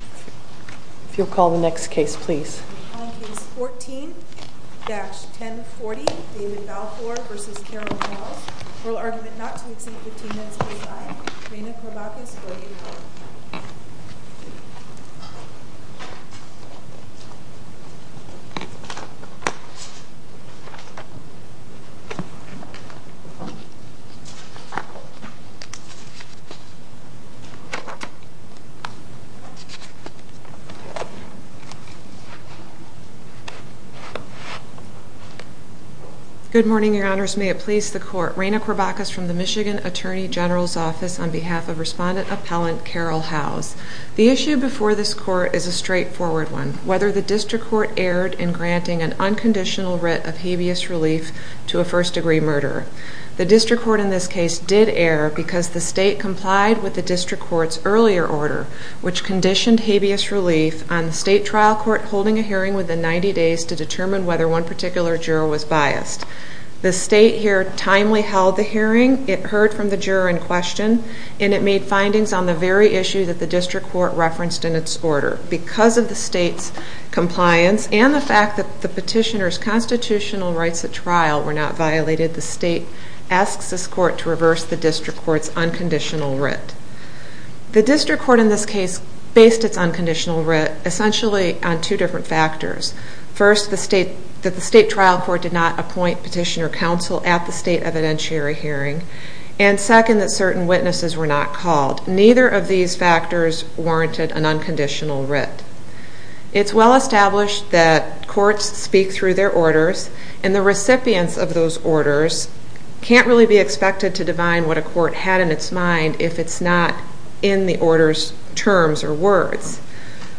If you'll call the next case, please. On Case 14-1040, David Balfour v. Carol Howes, Oral Argument not to Exceed 15 Minutes Please Aye. Reina Corbacus 44 Good morning, Your Honors. May it please the Court, Reina Corbacus from the Michigan Attorney General's Office on behalf of Respondent Appellant Carol Howes. The issue before this Court is a straightforward one, whether the District Court erred in granting an unconditional writ of habeas relief to a first-degree murderer. The District Court in this case did err because the State complied with the District Court's earlier order, which conditioned habeas relief on the State trial court holding a hearing within 90 days to determine whether one particular juror was biased. The State here timely held the hearing. It heard from the juror in question, and it made findings on the very issue that the District Court referenced in its order. Because of the State's compliance and the fact that the petitioner's constitutional rights at trial were not violated, the State asks this Court to reverse the District Court's unconditional writ. The District Court in this case based its unconditional writ essentially on two different factors. First, that the State trial court did not appoint petitioner counsel at the State evidentiary hearing, and second, that certain witnesses were not called. Neither of these factors warranted an unconditional writ. It's well established that courts speak through their orders, and the recipients of those orders can't really be expected to divine what a court had in its mind if it's not in the order's terms or words.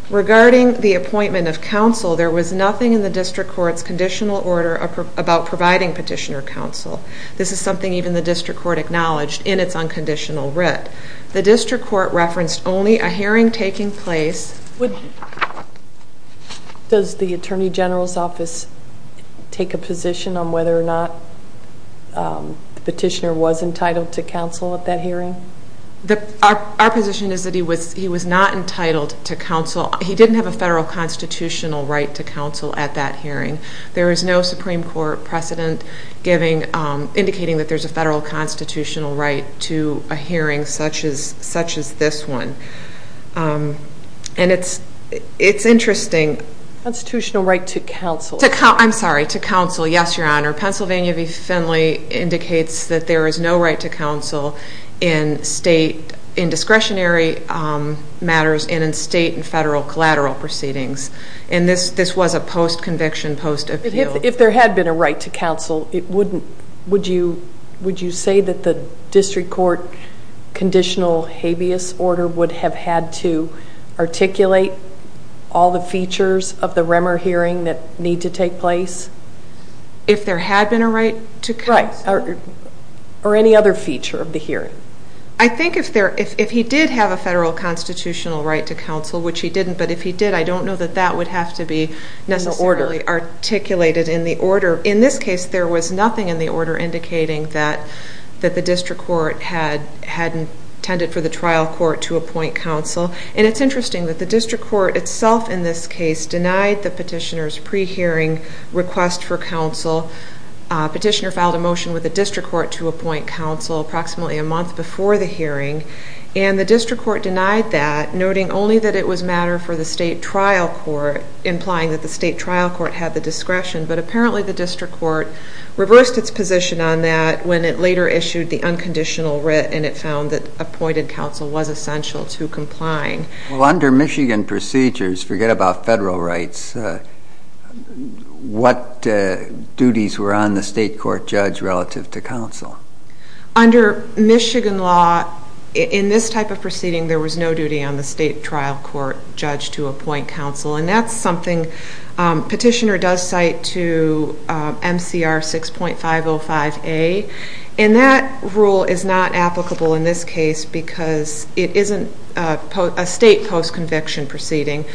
Regarding the appointment of counsel, there was nothing in the District Court's conditional order about providing petitioner counsel. This is something even the District Court acknowledged in its unconditional writ. The District Court referenced only a hearing taking place. Does the Attorney General's Office take a position on whether or not the petitioner was entitled to counsel at that hearing? Our position is that he was not entitled to counsel. He didn't have a federal constitutional right to counsel at that hearing. There is no Supreme Court precedent indicating that there's a federal constitutional right to a hearing such as this one. And it's interesting. Constitutional right to counsel? I'm sorry, to counsel, yes, Your Honor. Pennsylvania v. Finley indicates that there is no right to counsel in State indiscretionary matters and in State and federal collateral proceedings. And this was a post-conviction, post-appeal. If there had been a right to counsel, would you say that the District Court conditional habeas order would have had to articulate all the features of the Remmer hearing that need to take place? If there had been a right to counsel? Right. Or any other feature of the hearing. I think if he did have a federal constitutional right to counsel, which he didn't, but if he did, I don't know that that would have to be necessarily articulated in the order. In this case, there was nothing in the order indicating that the District Court had intended for the trial court to appoint counsel. And it's interesting that the District Court itself in this case denied the petitioner's pre-hearing request for counsel. Petitioner filed a motion with the District Court to appoint counsel approximately a month before the hearing. And the District Court denied that, noting only that it was matter for the State trial court, implying that the State trial court had the discretion. But apparently the District Court reversed its position on that when it later issued the unconditional writ and it found that appointed counsel was essential to complying. Well, under Michigan procedures, forget about federal rights, what duties were on the State court judge relative to counsel? Under Michigan law, in this type of proceeding, there was no duty on the State trial court judge to appoint counsel. And that's something petitioner does cite to MCR 6.505A. And that rule is not applicable in this case because it isn't a State post-conviction proceeding.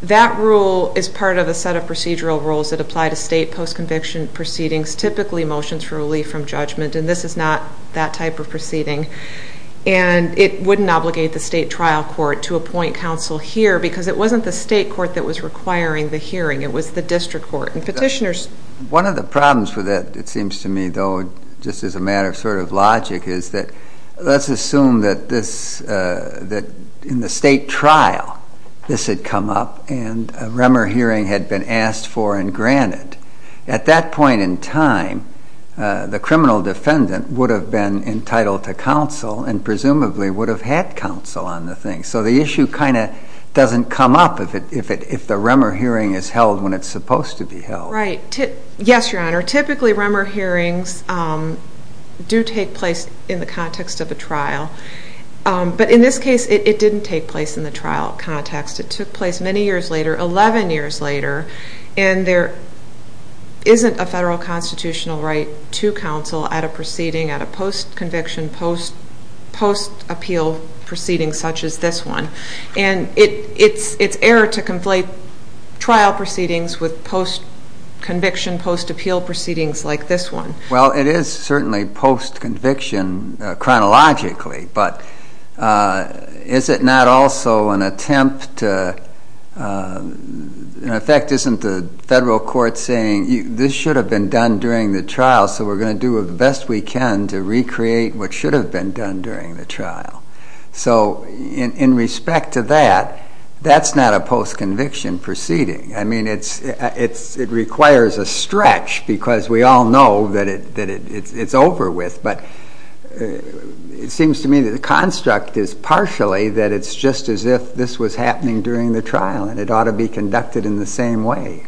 That rule is part of a set of procedural rules that apply to State post-conviction proceedings, typically motions for relief from judgment, and this is not that type of proceeding. And it wouldn't obligate the State trial court to appoint counsel here because it wasn't the State court that was requiring the hearing, it was the District court. And petitioners... One of the problems with that, it seems to me, though, just as a matter of sort of logic, is that let's assume that in the State trial this had come up and a Remmer hearing had been asked for and granted. At that point in time, the criminal defendant would have been entitled to counsel and presumably would have had counsel on the thing. So the issue kind of doesn't come up if the Remmer hearing is held when it's supposed to be held. Right. Yes, Your Honor, typically Remmer hearings do take place in the context of a trial. But in this case, it didn't take place in the trial context. It took place many years later, 11 years later, and there isn't a federal constitutional right to counsel at a proceeding, at a post-conviction, post-appeal proceeding such as this one. And it's error to conflate trial proceedings with post-conviction, post-appeal proceedings like this one. Well, it is certainly post-conviction chronologically, but is it not also an attempt to, in effect, isn't the federal court saying, this should have been done during the trial, so we're going to do the best we can to recreate what should have been done during the trial? So in respect to that, that's not a post-conviction proceeding. I mean, it requires a stretch because we all know that it's over with, but it seems to me that the construct is partially that it's just as if this was happening during the trial and it ought to be conducted in the same way.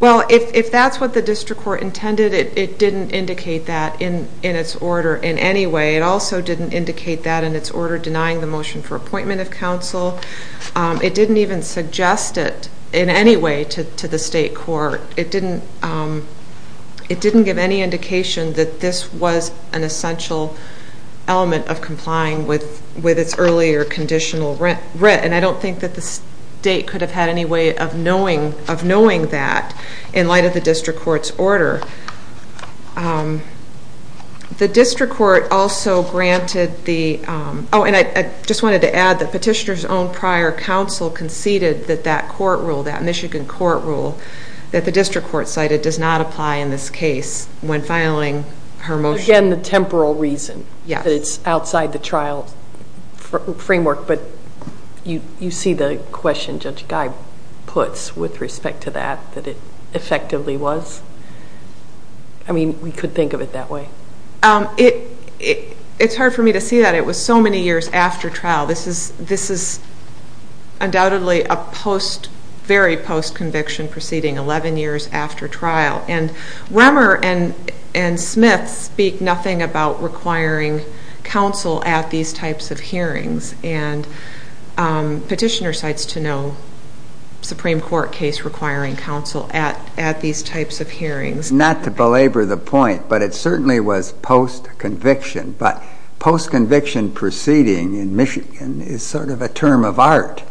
Well, if that's what the district court intended, it didn't indicate that in its order in any way. It also didn't indicate that in its order denying the motion for appointment of counsel. It didn't even suggest it in any way to the state court. It didn't give any indication that this was an essential element of complying with its earlier conditional writ, and I don't think that the state could have had any way of knowing that in light of the district court's order. The district court also granted the, oh, and I just wanted to add that petitioner's own prior counsel conceded that that court rule, that Michigan court rule, that the district court cited does not apply in this case when filing her motion. Again, the temporal reason. Yes. It's outside the trial framework, but you see the question Judge Guy puts with respect to that, that it effectively was. I mean, we could think of it that way. It's hard for me to see that. It was so many years after trial. This is undoubtedly a very post-conviction proceeding, 11 years after trial, and Remmer and Smith speak nothing about requiring counsel at these types of hearings, and petitioner cites to no Supreme Court case requiring counsel at these types of hearings. Not to belabor the point, but it certainly was post-conviction, but post-conviction proceeding in Michigan is sort of a term of art,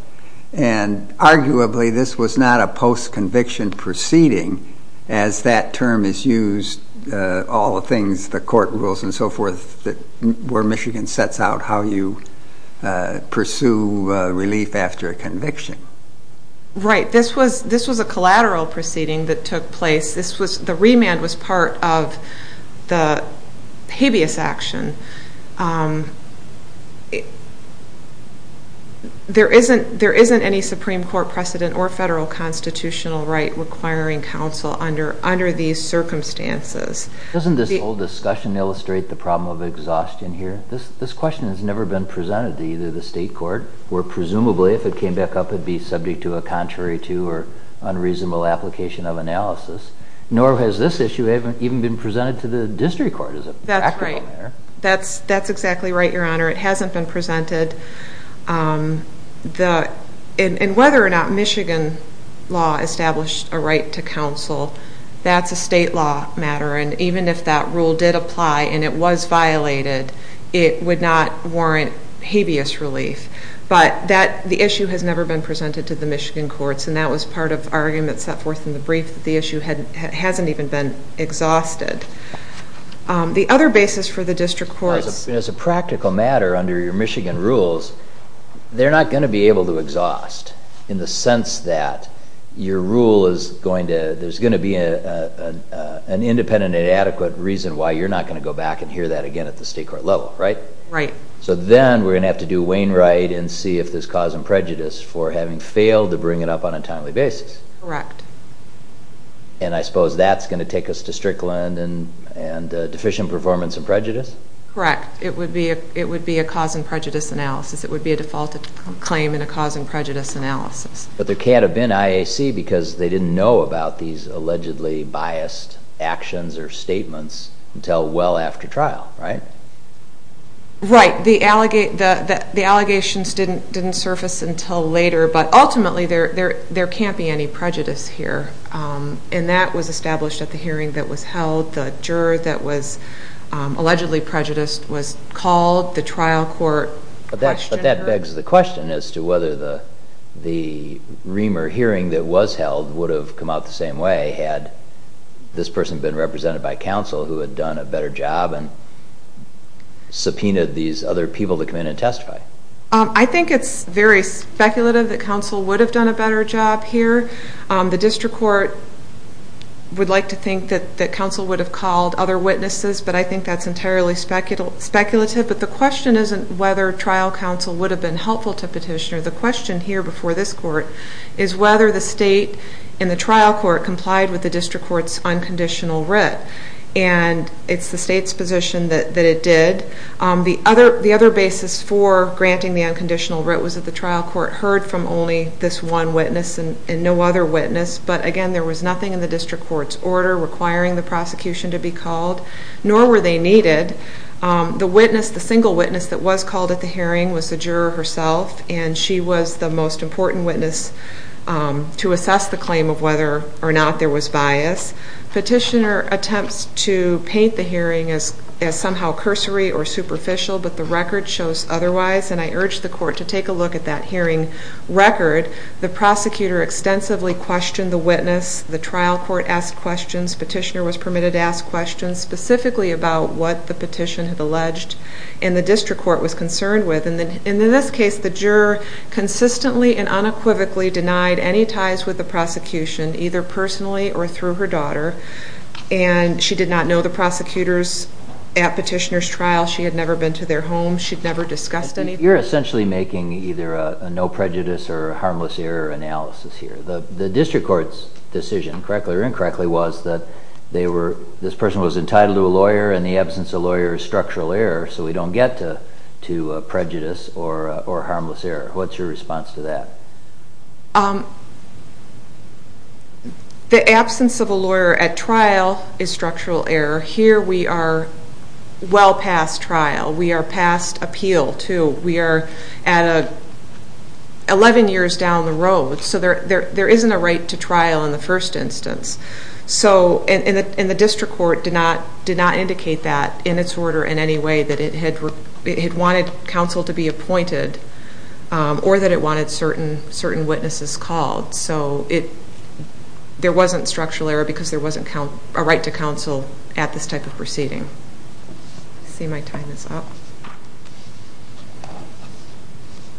and arguably this was not a post-conviction proceeding as that term is used all the things, the court rules and so forth, where Michigan sets out how you pursue relief after a conviction. Right. This was a collateral proceeding that took place. The remand was part of the habeas action. There isn't any Supreme Court precedent or federal constitutional right requiring counsel under these circumstances. Doesn't this whole discussion illustrate the problem of exhaustion here? This question has never been presented to either the state court, where presumably if it came back up it would be subject to a contrary to or unreasonable application of analysis, nor has this issue even been presented to the district court as a practical matter. That's right. That's exactly right, Your Honor. It hasn't been presented, and whether or not Michigan law established a right to counsel, that's a state law matter, and even if that rule did apply and it was violated, it would not warrant habeas relief. But the issue has never been presented to the Michigan courts, and that was part of the argument set forth in the brief that the issue hasn't even been exhausted. The other basis for the district courts... As a practical matter, under your Michigan rules, they're not going to be able to exhaust in the sense that your rule is going to, there's going to be an independent and adequate reason why you're not going to go back and hear that again at the state court level, right? Right. So then we're going to have to do Wainwright and see if there's cause and prejudice for having failed to bring it up on a timely basis. Correct. And I suppose that's going to take us to Strickland and deficient performance and prejudice? Correct. It would be a cause and prejudice analysis. It would be a defaulted claim in a cause and prejudice analysis. But there can't have been IAC because they didn't know about these allegedly biased actions or statements until well after trial, right? Right. The allegations didn't surface until later, but ultimately there can't be any prejudice here. And that was established at the hearing that was held. The juror that was allegedly prejudiced was called. The trial court questioned her. One of the things is the question as to whether the Reamer hearing that was held would have come out the same way had this person been represented by counsel who had done a better job and subpoenaed these other people to come in and testify. I think it's very speculative that counsel would have done a better job here. The district court would like to think that counsel would have called other witnesses, but I think that's entirely speculative. But the question isn't whether trial counsel would have been helpful to petitioner. The question here before this court is whether the state and the trial court complied with the district court's unconditional writ. And it's the state's position that it did. The other basis for granting the unconditional writ was that the trial court heard from only this one witness and no other witness. But, again, there was nothing in the district court's order requiring the prosecution to be called, nor were they needed. The single witness that was called at the hearing was the juror herself, and she was the most important witness to assess the claim of whether or not there was bias. Petitioner attempts to paint the hearing as somehow cursory or superficial, but the record shows otherwise. And I urge the court to take a look at that hearing record. The prosecutor extensively questioned the witness. The trial court asked questions. Petitioner was permitted to ask questions specifically about what the petition had alleged and the district court was concerned with. And in this case, the juror consistently and unequivocally denied any ties with the prosecution, either personally or through her daughter. And she did not know the prosecutors at petitioner's trial. She had never been to their home. She'd never discussed anything. You're essentially making either a no prejudice or a harmless error analysis here. The district court's decision, correctly or incorrectly, was that this person was entitled to a lawyer and the absence of a lawyer is structural error, so we don't get to prejudice or harmless error. What's your response to that? The absence of a lawyer at trial is structural error. Here we are well past trial. We are past appeal, too. We are at 11 years down the road, so there isn't a right to trial in the first instance. And the district court did not indicate that in its order in any way that it had wanted counsel to be appointed or that it wanted certain witnesses called. So there wasn't structural error because there wasn't a right to counsel at this type of proceeding. I see my time is up.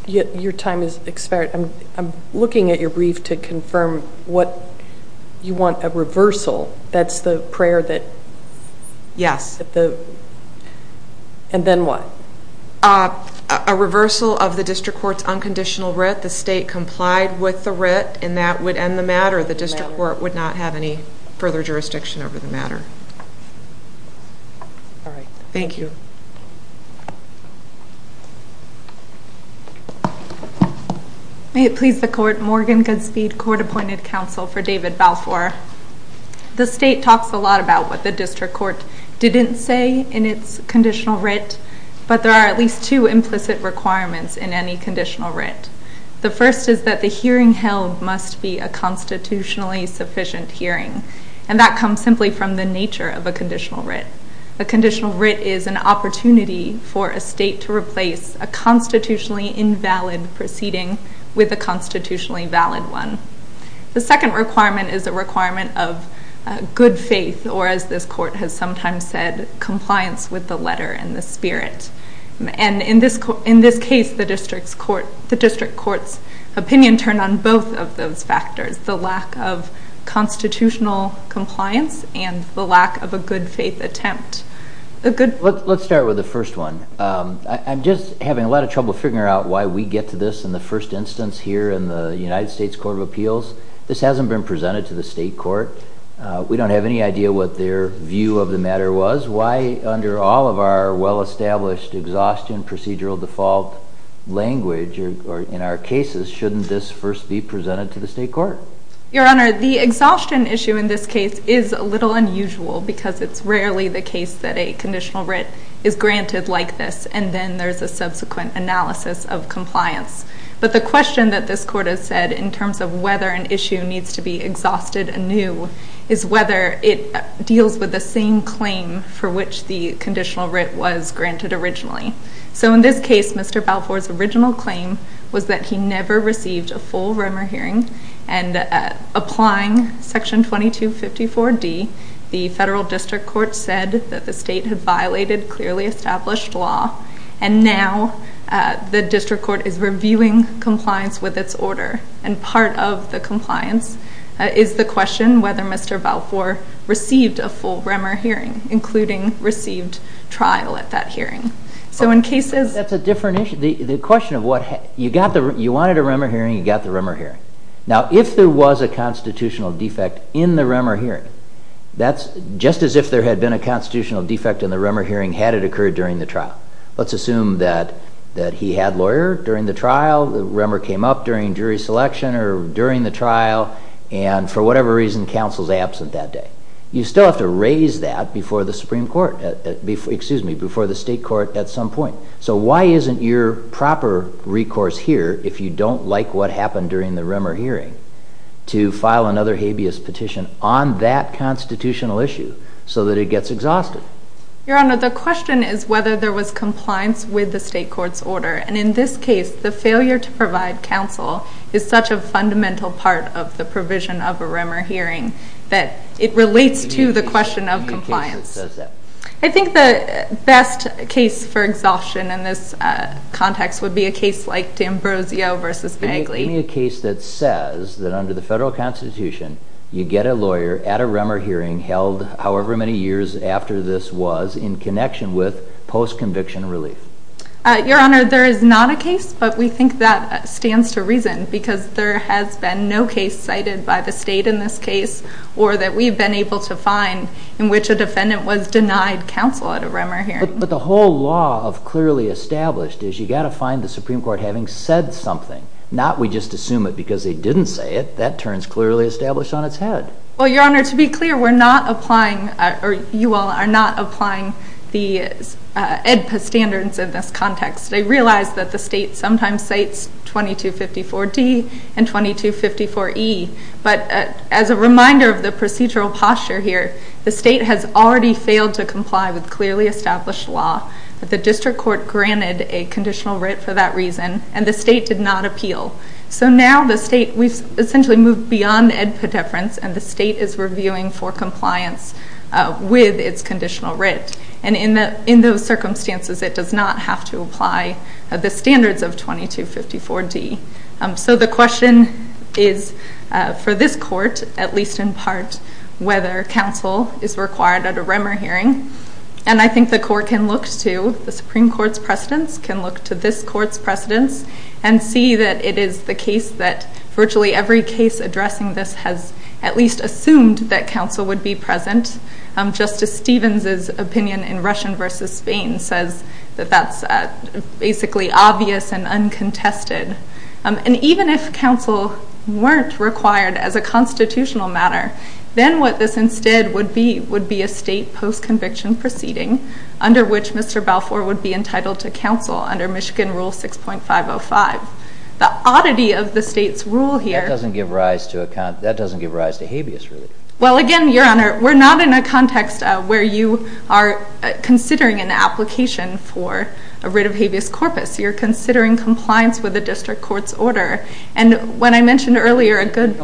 Your time has expired. I'm looking at your brief to confirm what you want, a reversal. That's the prayer that... Yes. And then what? A reversal of the district court's unconditional writ. The state complied with the writ, and that would end the matter. I'm sure the district court would not have any further jurisdiction over the matter. All right. Thank you. May it please the court. Morgan Goodspeed, court-appointed counsel for David Balfour. The state talks a lot about what the district court didn't say in its conditional writ, but there are at least two implicit requirements in any conditional writ. The first is that the hearing held must be a constitutionally sufficient hearing, and that comes simply from the nature of a conditional writ. A conditional writ is an opportunity for a state to replace a constitutionally invalid proceeding with a constitutionally valid one. The second requirement is a requirement of good faith, or as this court has sometimes said, compliance with the letter and the spirit. And in this case, the district court's opinion turned on both of those factors, the lack of constitutional compliance and the lack of a good faith attempt. Let's start with the first one. I'm just having a lot of trouble figuring out why we get to this in the first instance here in the United States Court of Appeals. This hasn't been presented to the state court. We don't have any idea what their view of the matter was. Why, under all of our well-established exhaustion procedural default language in our cases, shouldn't this first be presented to the state court? Your Honor, the exhaustion issue in this case is a little unusual because it's rarely the case that a conditional writ is granted like this, and then there's a subsequent analysis of compliance. But the question that this court has said in terms of whether an issue needs to be exhausted anew is whether it deals with the same claim for which the conditional writ was granted originally. So in this case, Mr. Balfour's original claim was that he never received a full rumor hearing, and applying Section 2254D, the federal district court said that the state had violated clearly established law, and now the district court is reviewing compliance with its order. And part of the compliance is the question whether Mr. Balfour received a full rumor hearing, including received trial at that hearing. So in cases... That's a different issue. The question of what... You wanted a rumor hearing, you got the rumor hearing. Now, if there was a constitutional defect in the rumor hearing, that's just as if there had been a constitutional defect in the rumor hearing had it occurred during the trial. Let's assume that he had lawyer during the trial, the rumor came up during jury selection or during the trial, and for whatever reason, counsel's absent that day. You still have to raise that before the state court at some point. So why isn't your proper recourse here, if you don't like what happened during the rumor hearing, to file another habeas petition on that constitutional issue so that it gets exhausted? Your Honor, the question is whether there was compliance with the state court's order, and in this case, the failure to provide counsel is such a fundamental part of the provision of a rumor hearing that it relates to the question of compliance. Give me a case that says that. I think the best case for exhaustion in this context would be a case like D'Ambrosio v. Bagley. Give me a case that says that under the federal constitution, you get a lawyer at a rumor hearing held however many years after this was in connection with post-conviction relief. Your Honor, there is not a case, but we think that stands to reason because there has been no case cited by the state in this case or that we've been able to find in which a defendant was denied counsel at a rumor hearing. But the whole law of clearly established is you've got to find the Supreme Court having said something, not we just assume it because they didn't say it. That turns clearly established on its head. Well, Your Honor, to be clear, we're not applying, or you all are not applying, the AEDPA standards in this context. I realize that the state sometimes cites 2254D and 2254E, but as a reminder of the procedural posture here, the state has already failed to comply with clearly established law. The district court granted a conditional writ for that reason, and the state did not appeal. So now the state, we've essentially moved beyond AEDPA deference, and the state is reviewing for compliance with its conditional writ. And in those circumstances, it does not have to apply the standards of 2254D. So the question is for this court, at least in part, whether counsel is required at a rumor hearing. And I think the court can look to the Supreme Court's precedents, can look to this court's precedents, and see that it is the case that virtually every case addressing this has at least assumed that counsel would be present. Justice Stevens's opinion in Russian v. Spain says that that's basically obvious and uncontested. And even if counsel weren't required as a constitutional matter, then what this instead would be would be a state post-conviction proceeding, under which Mr. Balfour would be entitled to counsel under Michigan Rule 6.505. The oddity of the state's rule here... That doesn't give rise to a habeas rule. Well, again, Your Honor, we're not in a context where you are considering an application for a writ of habeas corpus. You're considering compliance with the district court's order. And when I mentioned earlier a good... You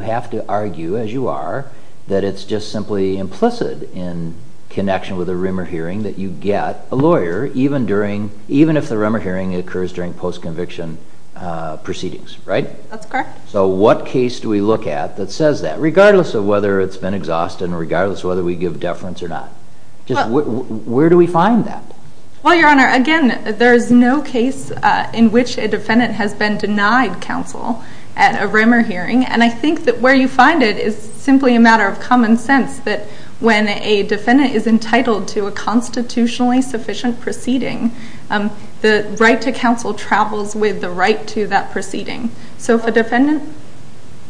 have to argue, as you are, that it's just simply implicit in connection with a rumor hearing that you get a lawyer, even if the rumor hearing occurs during post-conviction proceedings, right? That's correct. So what case do we look at that says that, regardless of whether it's been exhausted and regardless of whether we give deference or not? Where do we find that? Well, Your Honor, again, there is no case in which a defendant has been denied counsel at a rumor hearing. And I think that where you find it is simply a matter of common sense, that when a defendant is entitled to a constitutionally sufficient proceeding, the right to counsel travels with the right to that proceeding. So if a defendant...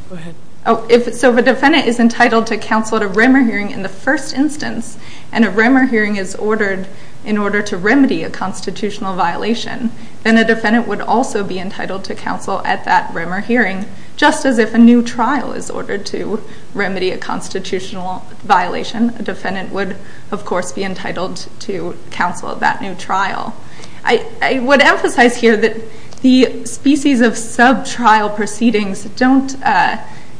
Go ahead. So if a defendant is entitled to counsel at a rumor hearing in the first instance and a rumor hearing is ordered in order to remedy a constitutional violation, then a defendant would also be entitled to counsel at that rumor hearing. Just as if a new trial is ordered to remedy a constitutional violation, a defendant would, of course, be entitled to counsel at that new trial. I would emphasize here that the species of sub-trial proceedings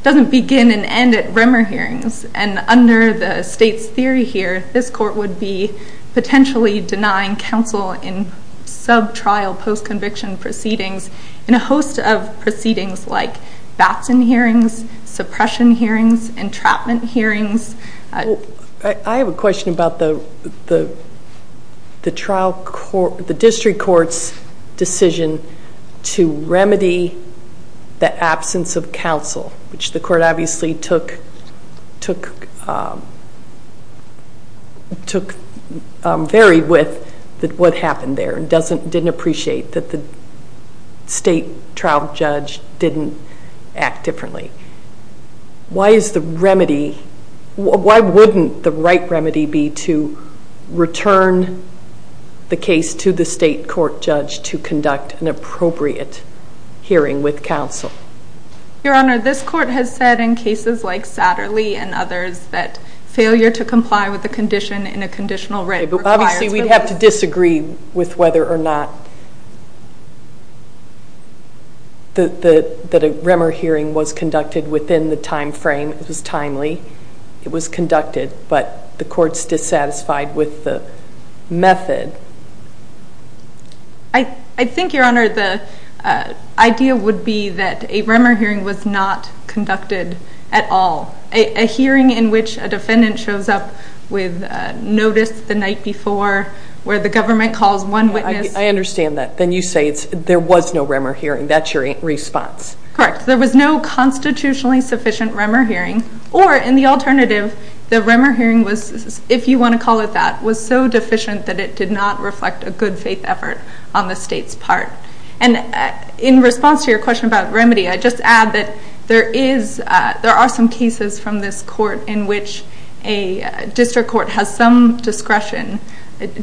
doesn't begin and end at rumor hearings. And under the state's theory here, this court would be potentially denying counsel in sub-trial post-conviction proceedings in a host of proceedings like baptism hearings, suppression hearings, entrapment hearings. I have a question about the district court's decision to remedy the absence of counsel, which the court obviously took very with what happened there and didn't appreciate that the state trial judge didn't act differently. Why is the remedy... Why wouldn't the right remedy be to return the case to the state court judge to conduct an appropriate hearing with counsel? Your Honor, this court has said in cases like Satterley and others that failure to comply with the condition in a conditional writ requires... Okay, but obviously we'd have to disagree with whether or not that a rumor hearing was conducted within the time frame that was timely. It was conducted, but the court's dissatisfied with the method. I think, Your Honor, the idea would be that a rumor hearing was not conducted at all. A hearing in which a defendant shows up with notice the night before where the government calls one witness... I understand that. Then you say there was no rumor hearing. That's your response. Correct. There was no constitutionally sufficient rumor hearing, or in the alternative, the rumor hearing was, if you want to call it that, was so deficient that it did not reflect a good faith effort on the state's part. In response to your question about remedy, I'd just add that there are some cases from this court in which a district court has some discretion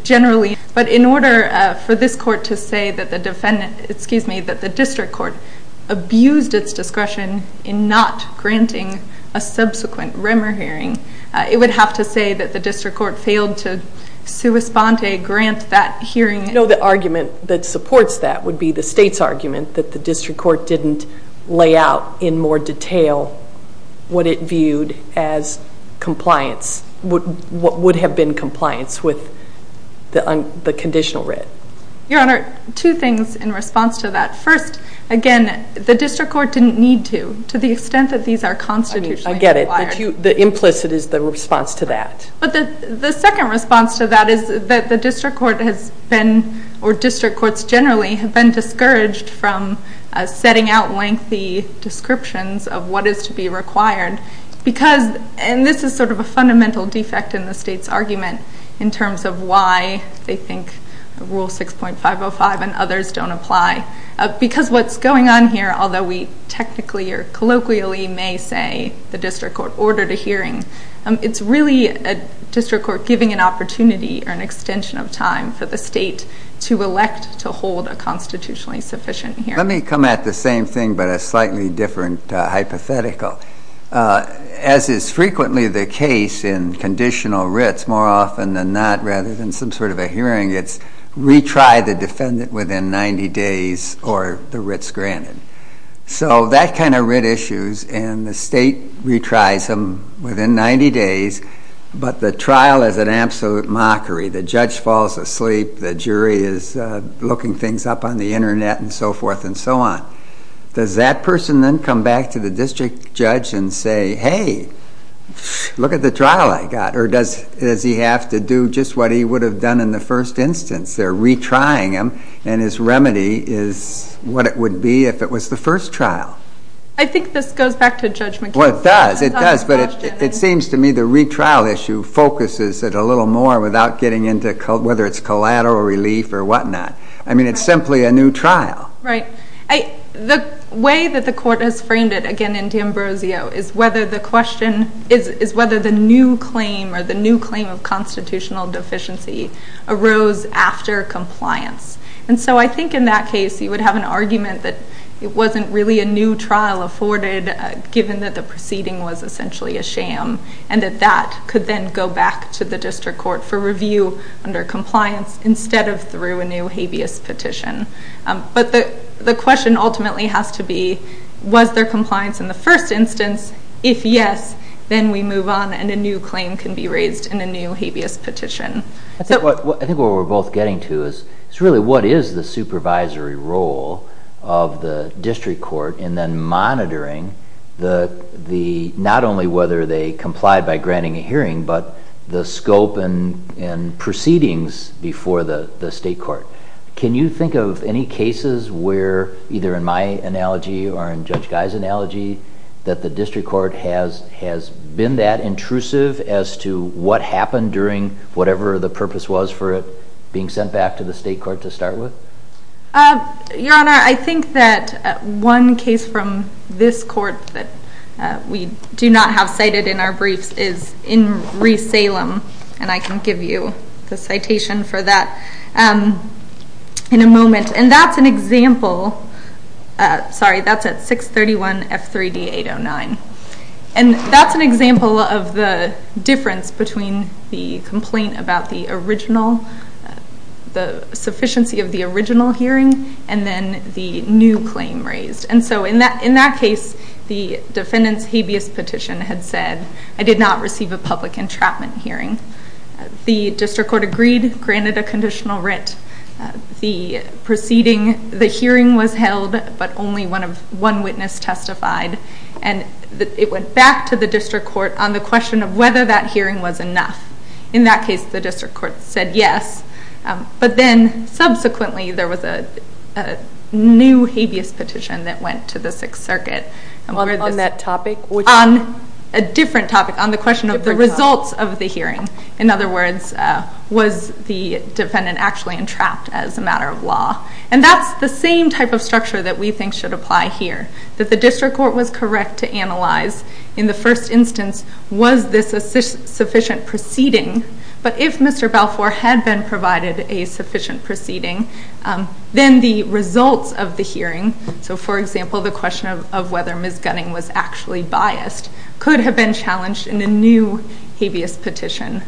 generally, but in order for this court to say that the district court abused its discretion in not granting a subsequent rumor hearing, it would have to say that the district court failed to sua sponte grant that hearing. No, the argument that supports that would be the state's argument that the district court didn't lay out in more detail what it viewed as compliance, what would have been compliance with the conditional writ. Your Honor, two things in response to that. First, again, the district court didn't need to, to the extent that these are constitutionally required. I get it. The implicit is the response to that. The second response to that is that the district court has been, or district courts generally have been discouraged from setting out lengthy descriptions of what is to be required because, and this is sort of a fundamental defect in the state's argument in terms of why they think Rule 6.505 and others don't apply, because what's going on here, although we technically or colloquially may say the district court ordered a hearing, it's really a district court giving an opportunity or an extension of time for the state to elect to hold a constitutionally sufficient hearing. Let me come at the same thing but a slightly different hypothetical. As is frequently the case in conditional writs, more often than not, rather than some sort of a hearing, it's retry the defendant within 90 days or the writ's granted. So that kind of writ issues, and the state retries them within 90 days, but the trial is an absolute mockery. The judge falls asleep, the jury is looking things up on the Internet and so forth and so on. Does that person then come back to the district judge and say, hey, look at the trial I got, or does he have to do just what he would have done in the first instance? They're retrying him, and his remedy is what it would be if it was the first trial. I think this goes back to Judge McKinsey. Well, it does, it does, but it seems to me the retrial issue focuses it a little more without getting into whether it's collateral relief or whatnot. I mean, it's simply a new trial. Right. The way that the court has framed it, again in D'Ambrosio, is whether the question is And so I think in that case you would have an argument that it wasn't really a new trial afforded given that the proceeding was essentially a sham, and that that could then go back to the district court for review under compliance instead of through a new habeas petition. But the question ultimately has to be, was there compliance in the first instance? If yes, then we move on and a new claim can be raised in a new habeas petition. I think what we're both getting to is really what is the supervisory role of the district court in then monitoring not only whether they complied by granting a hearing, but the scope and proceedings before the state court. Can you think of any cases where, either in my analogy or in Judge Guy's analogy, that the district court has been that intrusive as to what happened during whatever the purpose was for it being sent back to the state court to start with? Your Honor, I think that one case from this court that we do not have cited in our briefs is in Reese-Salem, and I can give you the citation for that in a moment. And that's an example, sorry, that's at 631 F3D 809. And that's an example of the difference between the complaint about the original, the sufficiency of the original hearing, and then the new claim raised. And so in that case, the defendant's habeas petition had said, I did not receive a public entrapment hearing. The district court agreed, granted a conditional writ. The hearing was held, but only one witness testified, and it went back to the district court on the question of whether that hearing was enough. In that case, the district court said yes, but then subsequently there was a new habeas petition that went to the Sixth Circuit. On that topic? On a different topic, on the question of the results of the hearing. In other words, was the defendant actually entrapped as a matter of law? And that's the same type of structure that we think should apply here, that the district court was correct to analyze in the first instance, was this a sufficient proceeding? But if Mr. Balfour had been provided a sufficient proceeding, then the results of the hearing, so for example, the question of whether Ms. Gunning was actually biased, could have been challenged in a new habeas petition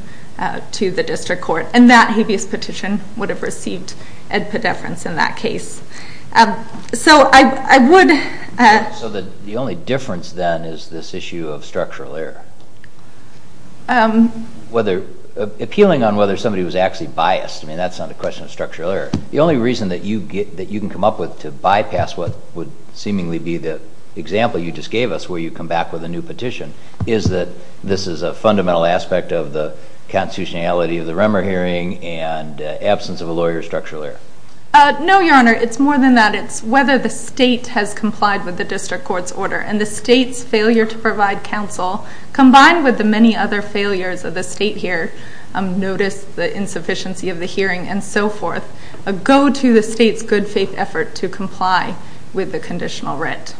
to the district court, and that habeas petition would have received a pedeference in that case. So I would... So the only difference then is this issue of structural error. Appealing on whether somebody was actually biased, I mean, that's not a question of structural error. The only reason that you can come up with to bypass what would seemingly be the example you just gave us, where you come back with a new petition, is that this is a fundamental aspect of the constitutionality of the Remmer hearing and absence of a lawyer's structural error. No, Your Honor. It's more than that. It's whether the state has complied with the district court's order, and the state's failure to provide counsel, combined with the many other failures of the state here, notice the insufficiency of the hearing and so forth, go to the state's good faith effort to comply with the conditional writ.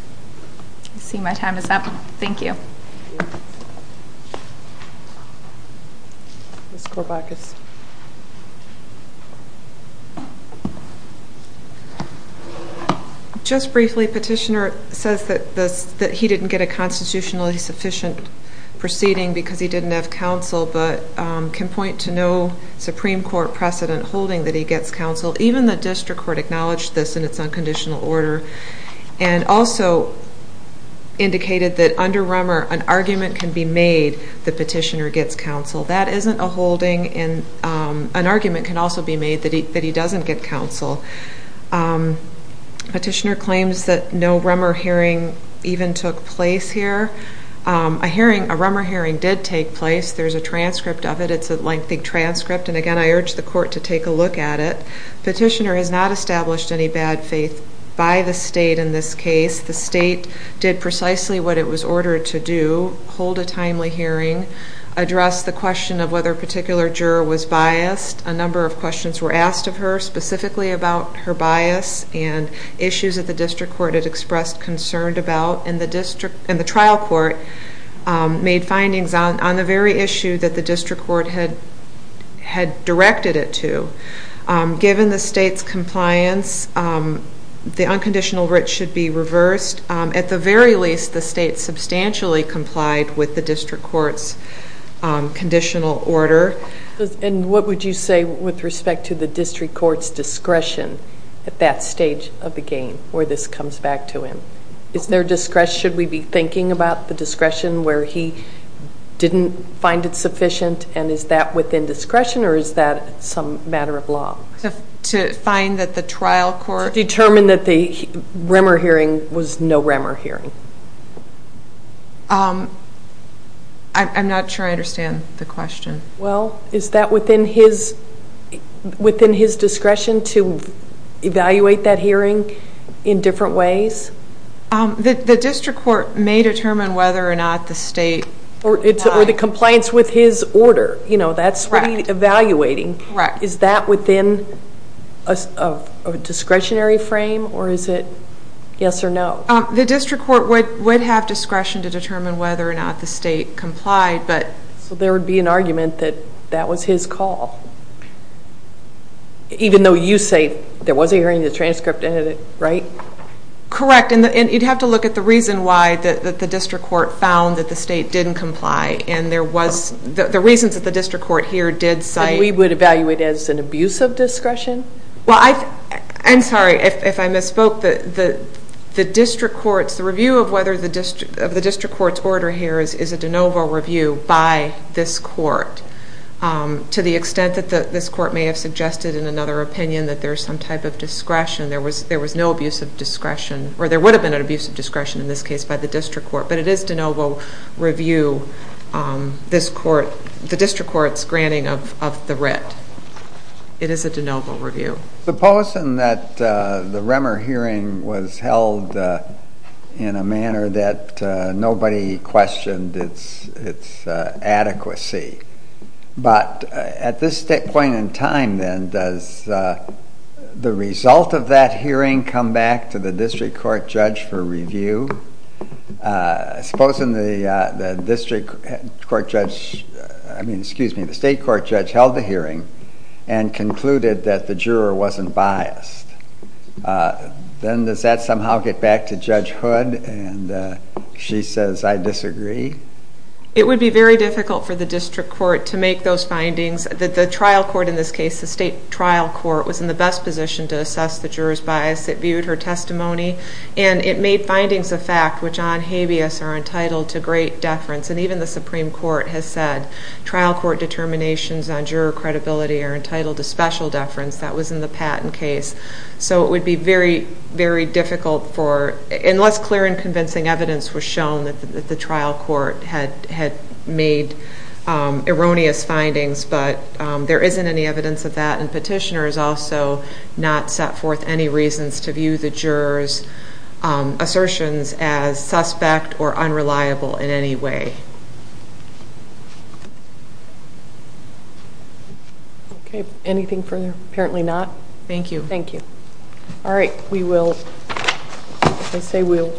I see my time is up. Thank you. Just briefly, Petitioner says that he didn't get a constitutionally sufficient proceeding because he didn't have counsel, but can point to no Supreme Court precedent holding that he gets counsel. Even the district court acknowledged this in its unconditional order. And also indicated that under Remmer, an argument can be made that Petitioner gets counsel. That isn't a holding. An argument can also be made that he doesn't get counsel. Petitioner claims that no Remmer hearing even took place here. A Remmer hearing did take place. There's a transcript of it. It's a lengthy transcript. And again, I urge the court to take a look at it. Petitioner has not established any bad faith by the state in this case. The state did precisely what it was ordered to do, hold a timely hearing, address the question of whether a particular juror was biased. A number of questions were asked of her specifically about her bias and issues that the district court had expressed concern about. And the trial court made findings on the very issue that the district court had directed it to. Given the state's compliance, the unconditional writ should be reversed. At the very least, the state substantially complied with the district court's conditional order. And what would you say with respect to the district court's discretion at that stage of the game where this comes back to him? Is there discretion? Should we be thinking about the discretion where he didn't find it sufficient? And is that within discretion or is that some matter of law? To find that the trial court... To determine that the Remmer hearing was no Remmer hearing. I'm not sure I understand the question. Well, is that within his discretion to evaluate that hearing in different ways? The district court may determine whether or not the state... Or the compliance with his order. That's what he's evaluating. Is that within a discretionary frame or is it yes or no? The district court would have discretion to determine whether or not the state complied. So there would be an argument that that was his call. Even though you say there was a hearing, the transcript ended it, right? Correct. And you'd have to look at the reason why the district court found that the state didn't comply. And the reasons that the district court here did cite... We would evaluate as an abuse of discretion? Well, I'm sorry if I misspoke. The review of the district court's order here is a de novo review by this court. To the extent that this court may have suggested in another opinion that there's some type of discretion. There was no abuse of discretion. Or there would have been an abuse of discretion in this case by the district court. But it is de novo review, the district court's granting of the writ. It is a de novo review. Supposing that the Remmer hearing was held in a manner that nobody questioned its adequacy. But at this point in time, then, does the result of that hearing come back to the district court judge for review? Supposing the district court judge, I mean, excuse me, the state court judge held the hearing and concluded that the juror wasn't biased. Then does that somehow get back to Judge Hood and she says, I disagree? It would be very difficult for the district court to make those findings. The trial court in this case, the state trial court, was in the best position to assess the juror's bias. It viewed her testimony. And it made findings of fact which on habeas are entitled to great deference. And even the Supreme Court has said trial court determinations on juror credibility are entitled to special deference. That was in the Patton case. So it would be very, very difficult for, unless clear and convincing evidence was shown that the trial court had made erroneous findings. But there isn't any evidence of that. And petitioners also not set forth any reasons to view the juror's assertions as suspect or unreliable in any way. Okay. Anything further? Apparently not. Thank you. Thank you. All right. We will. I say we'll.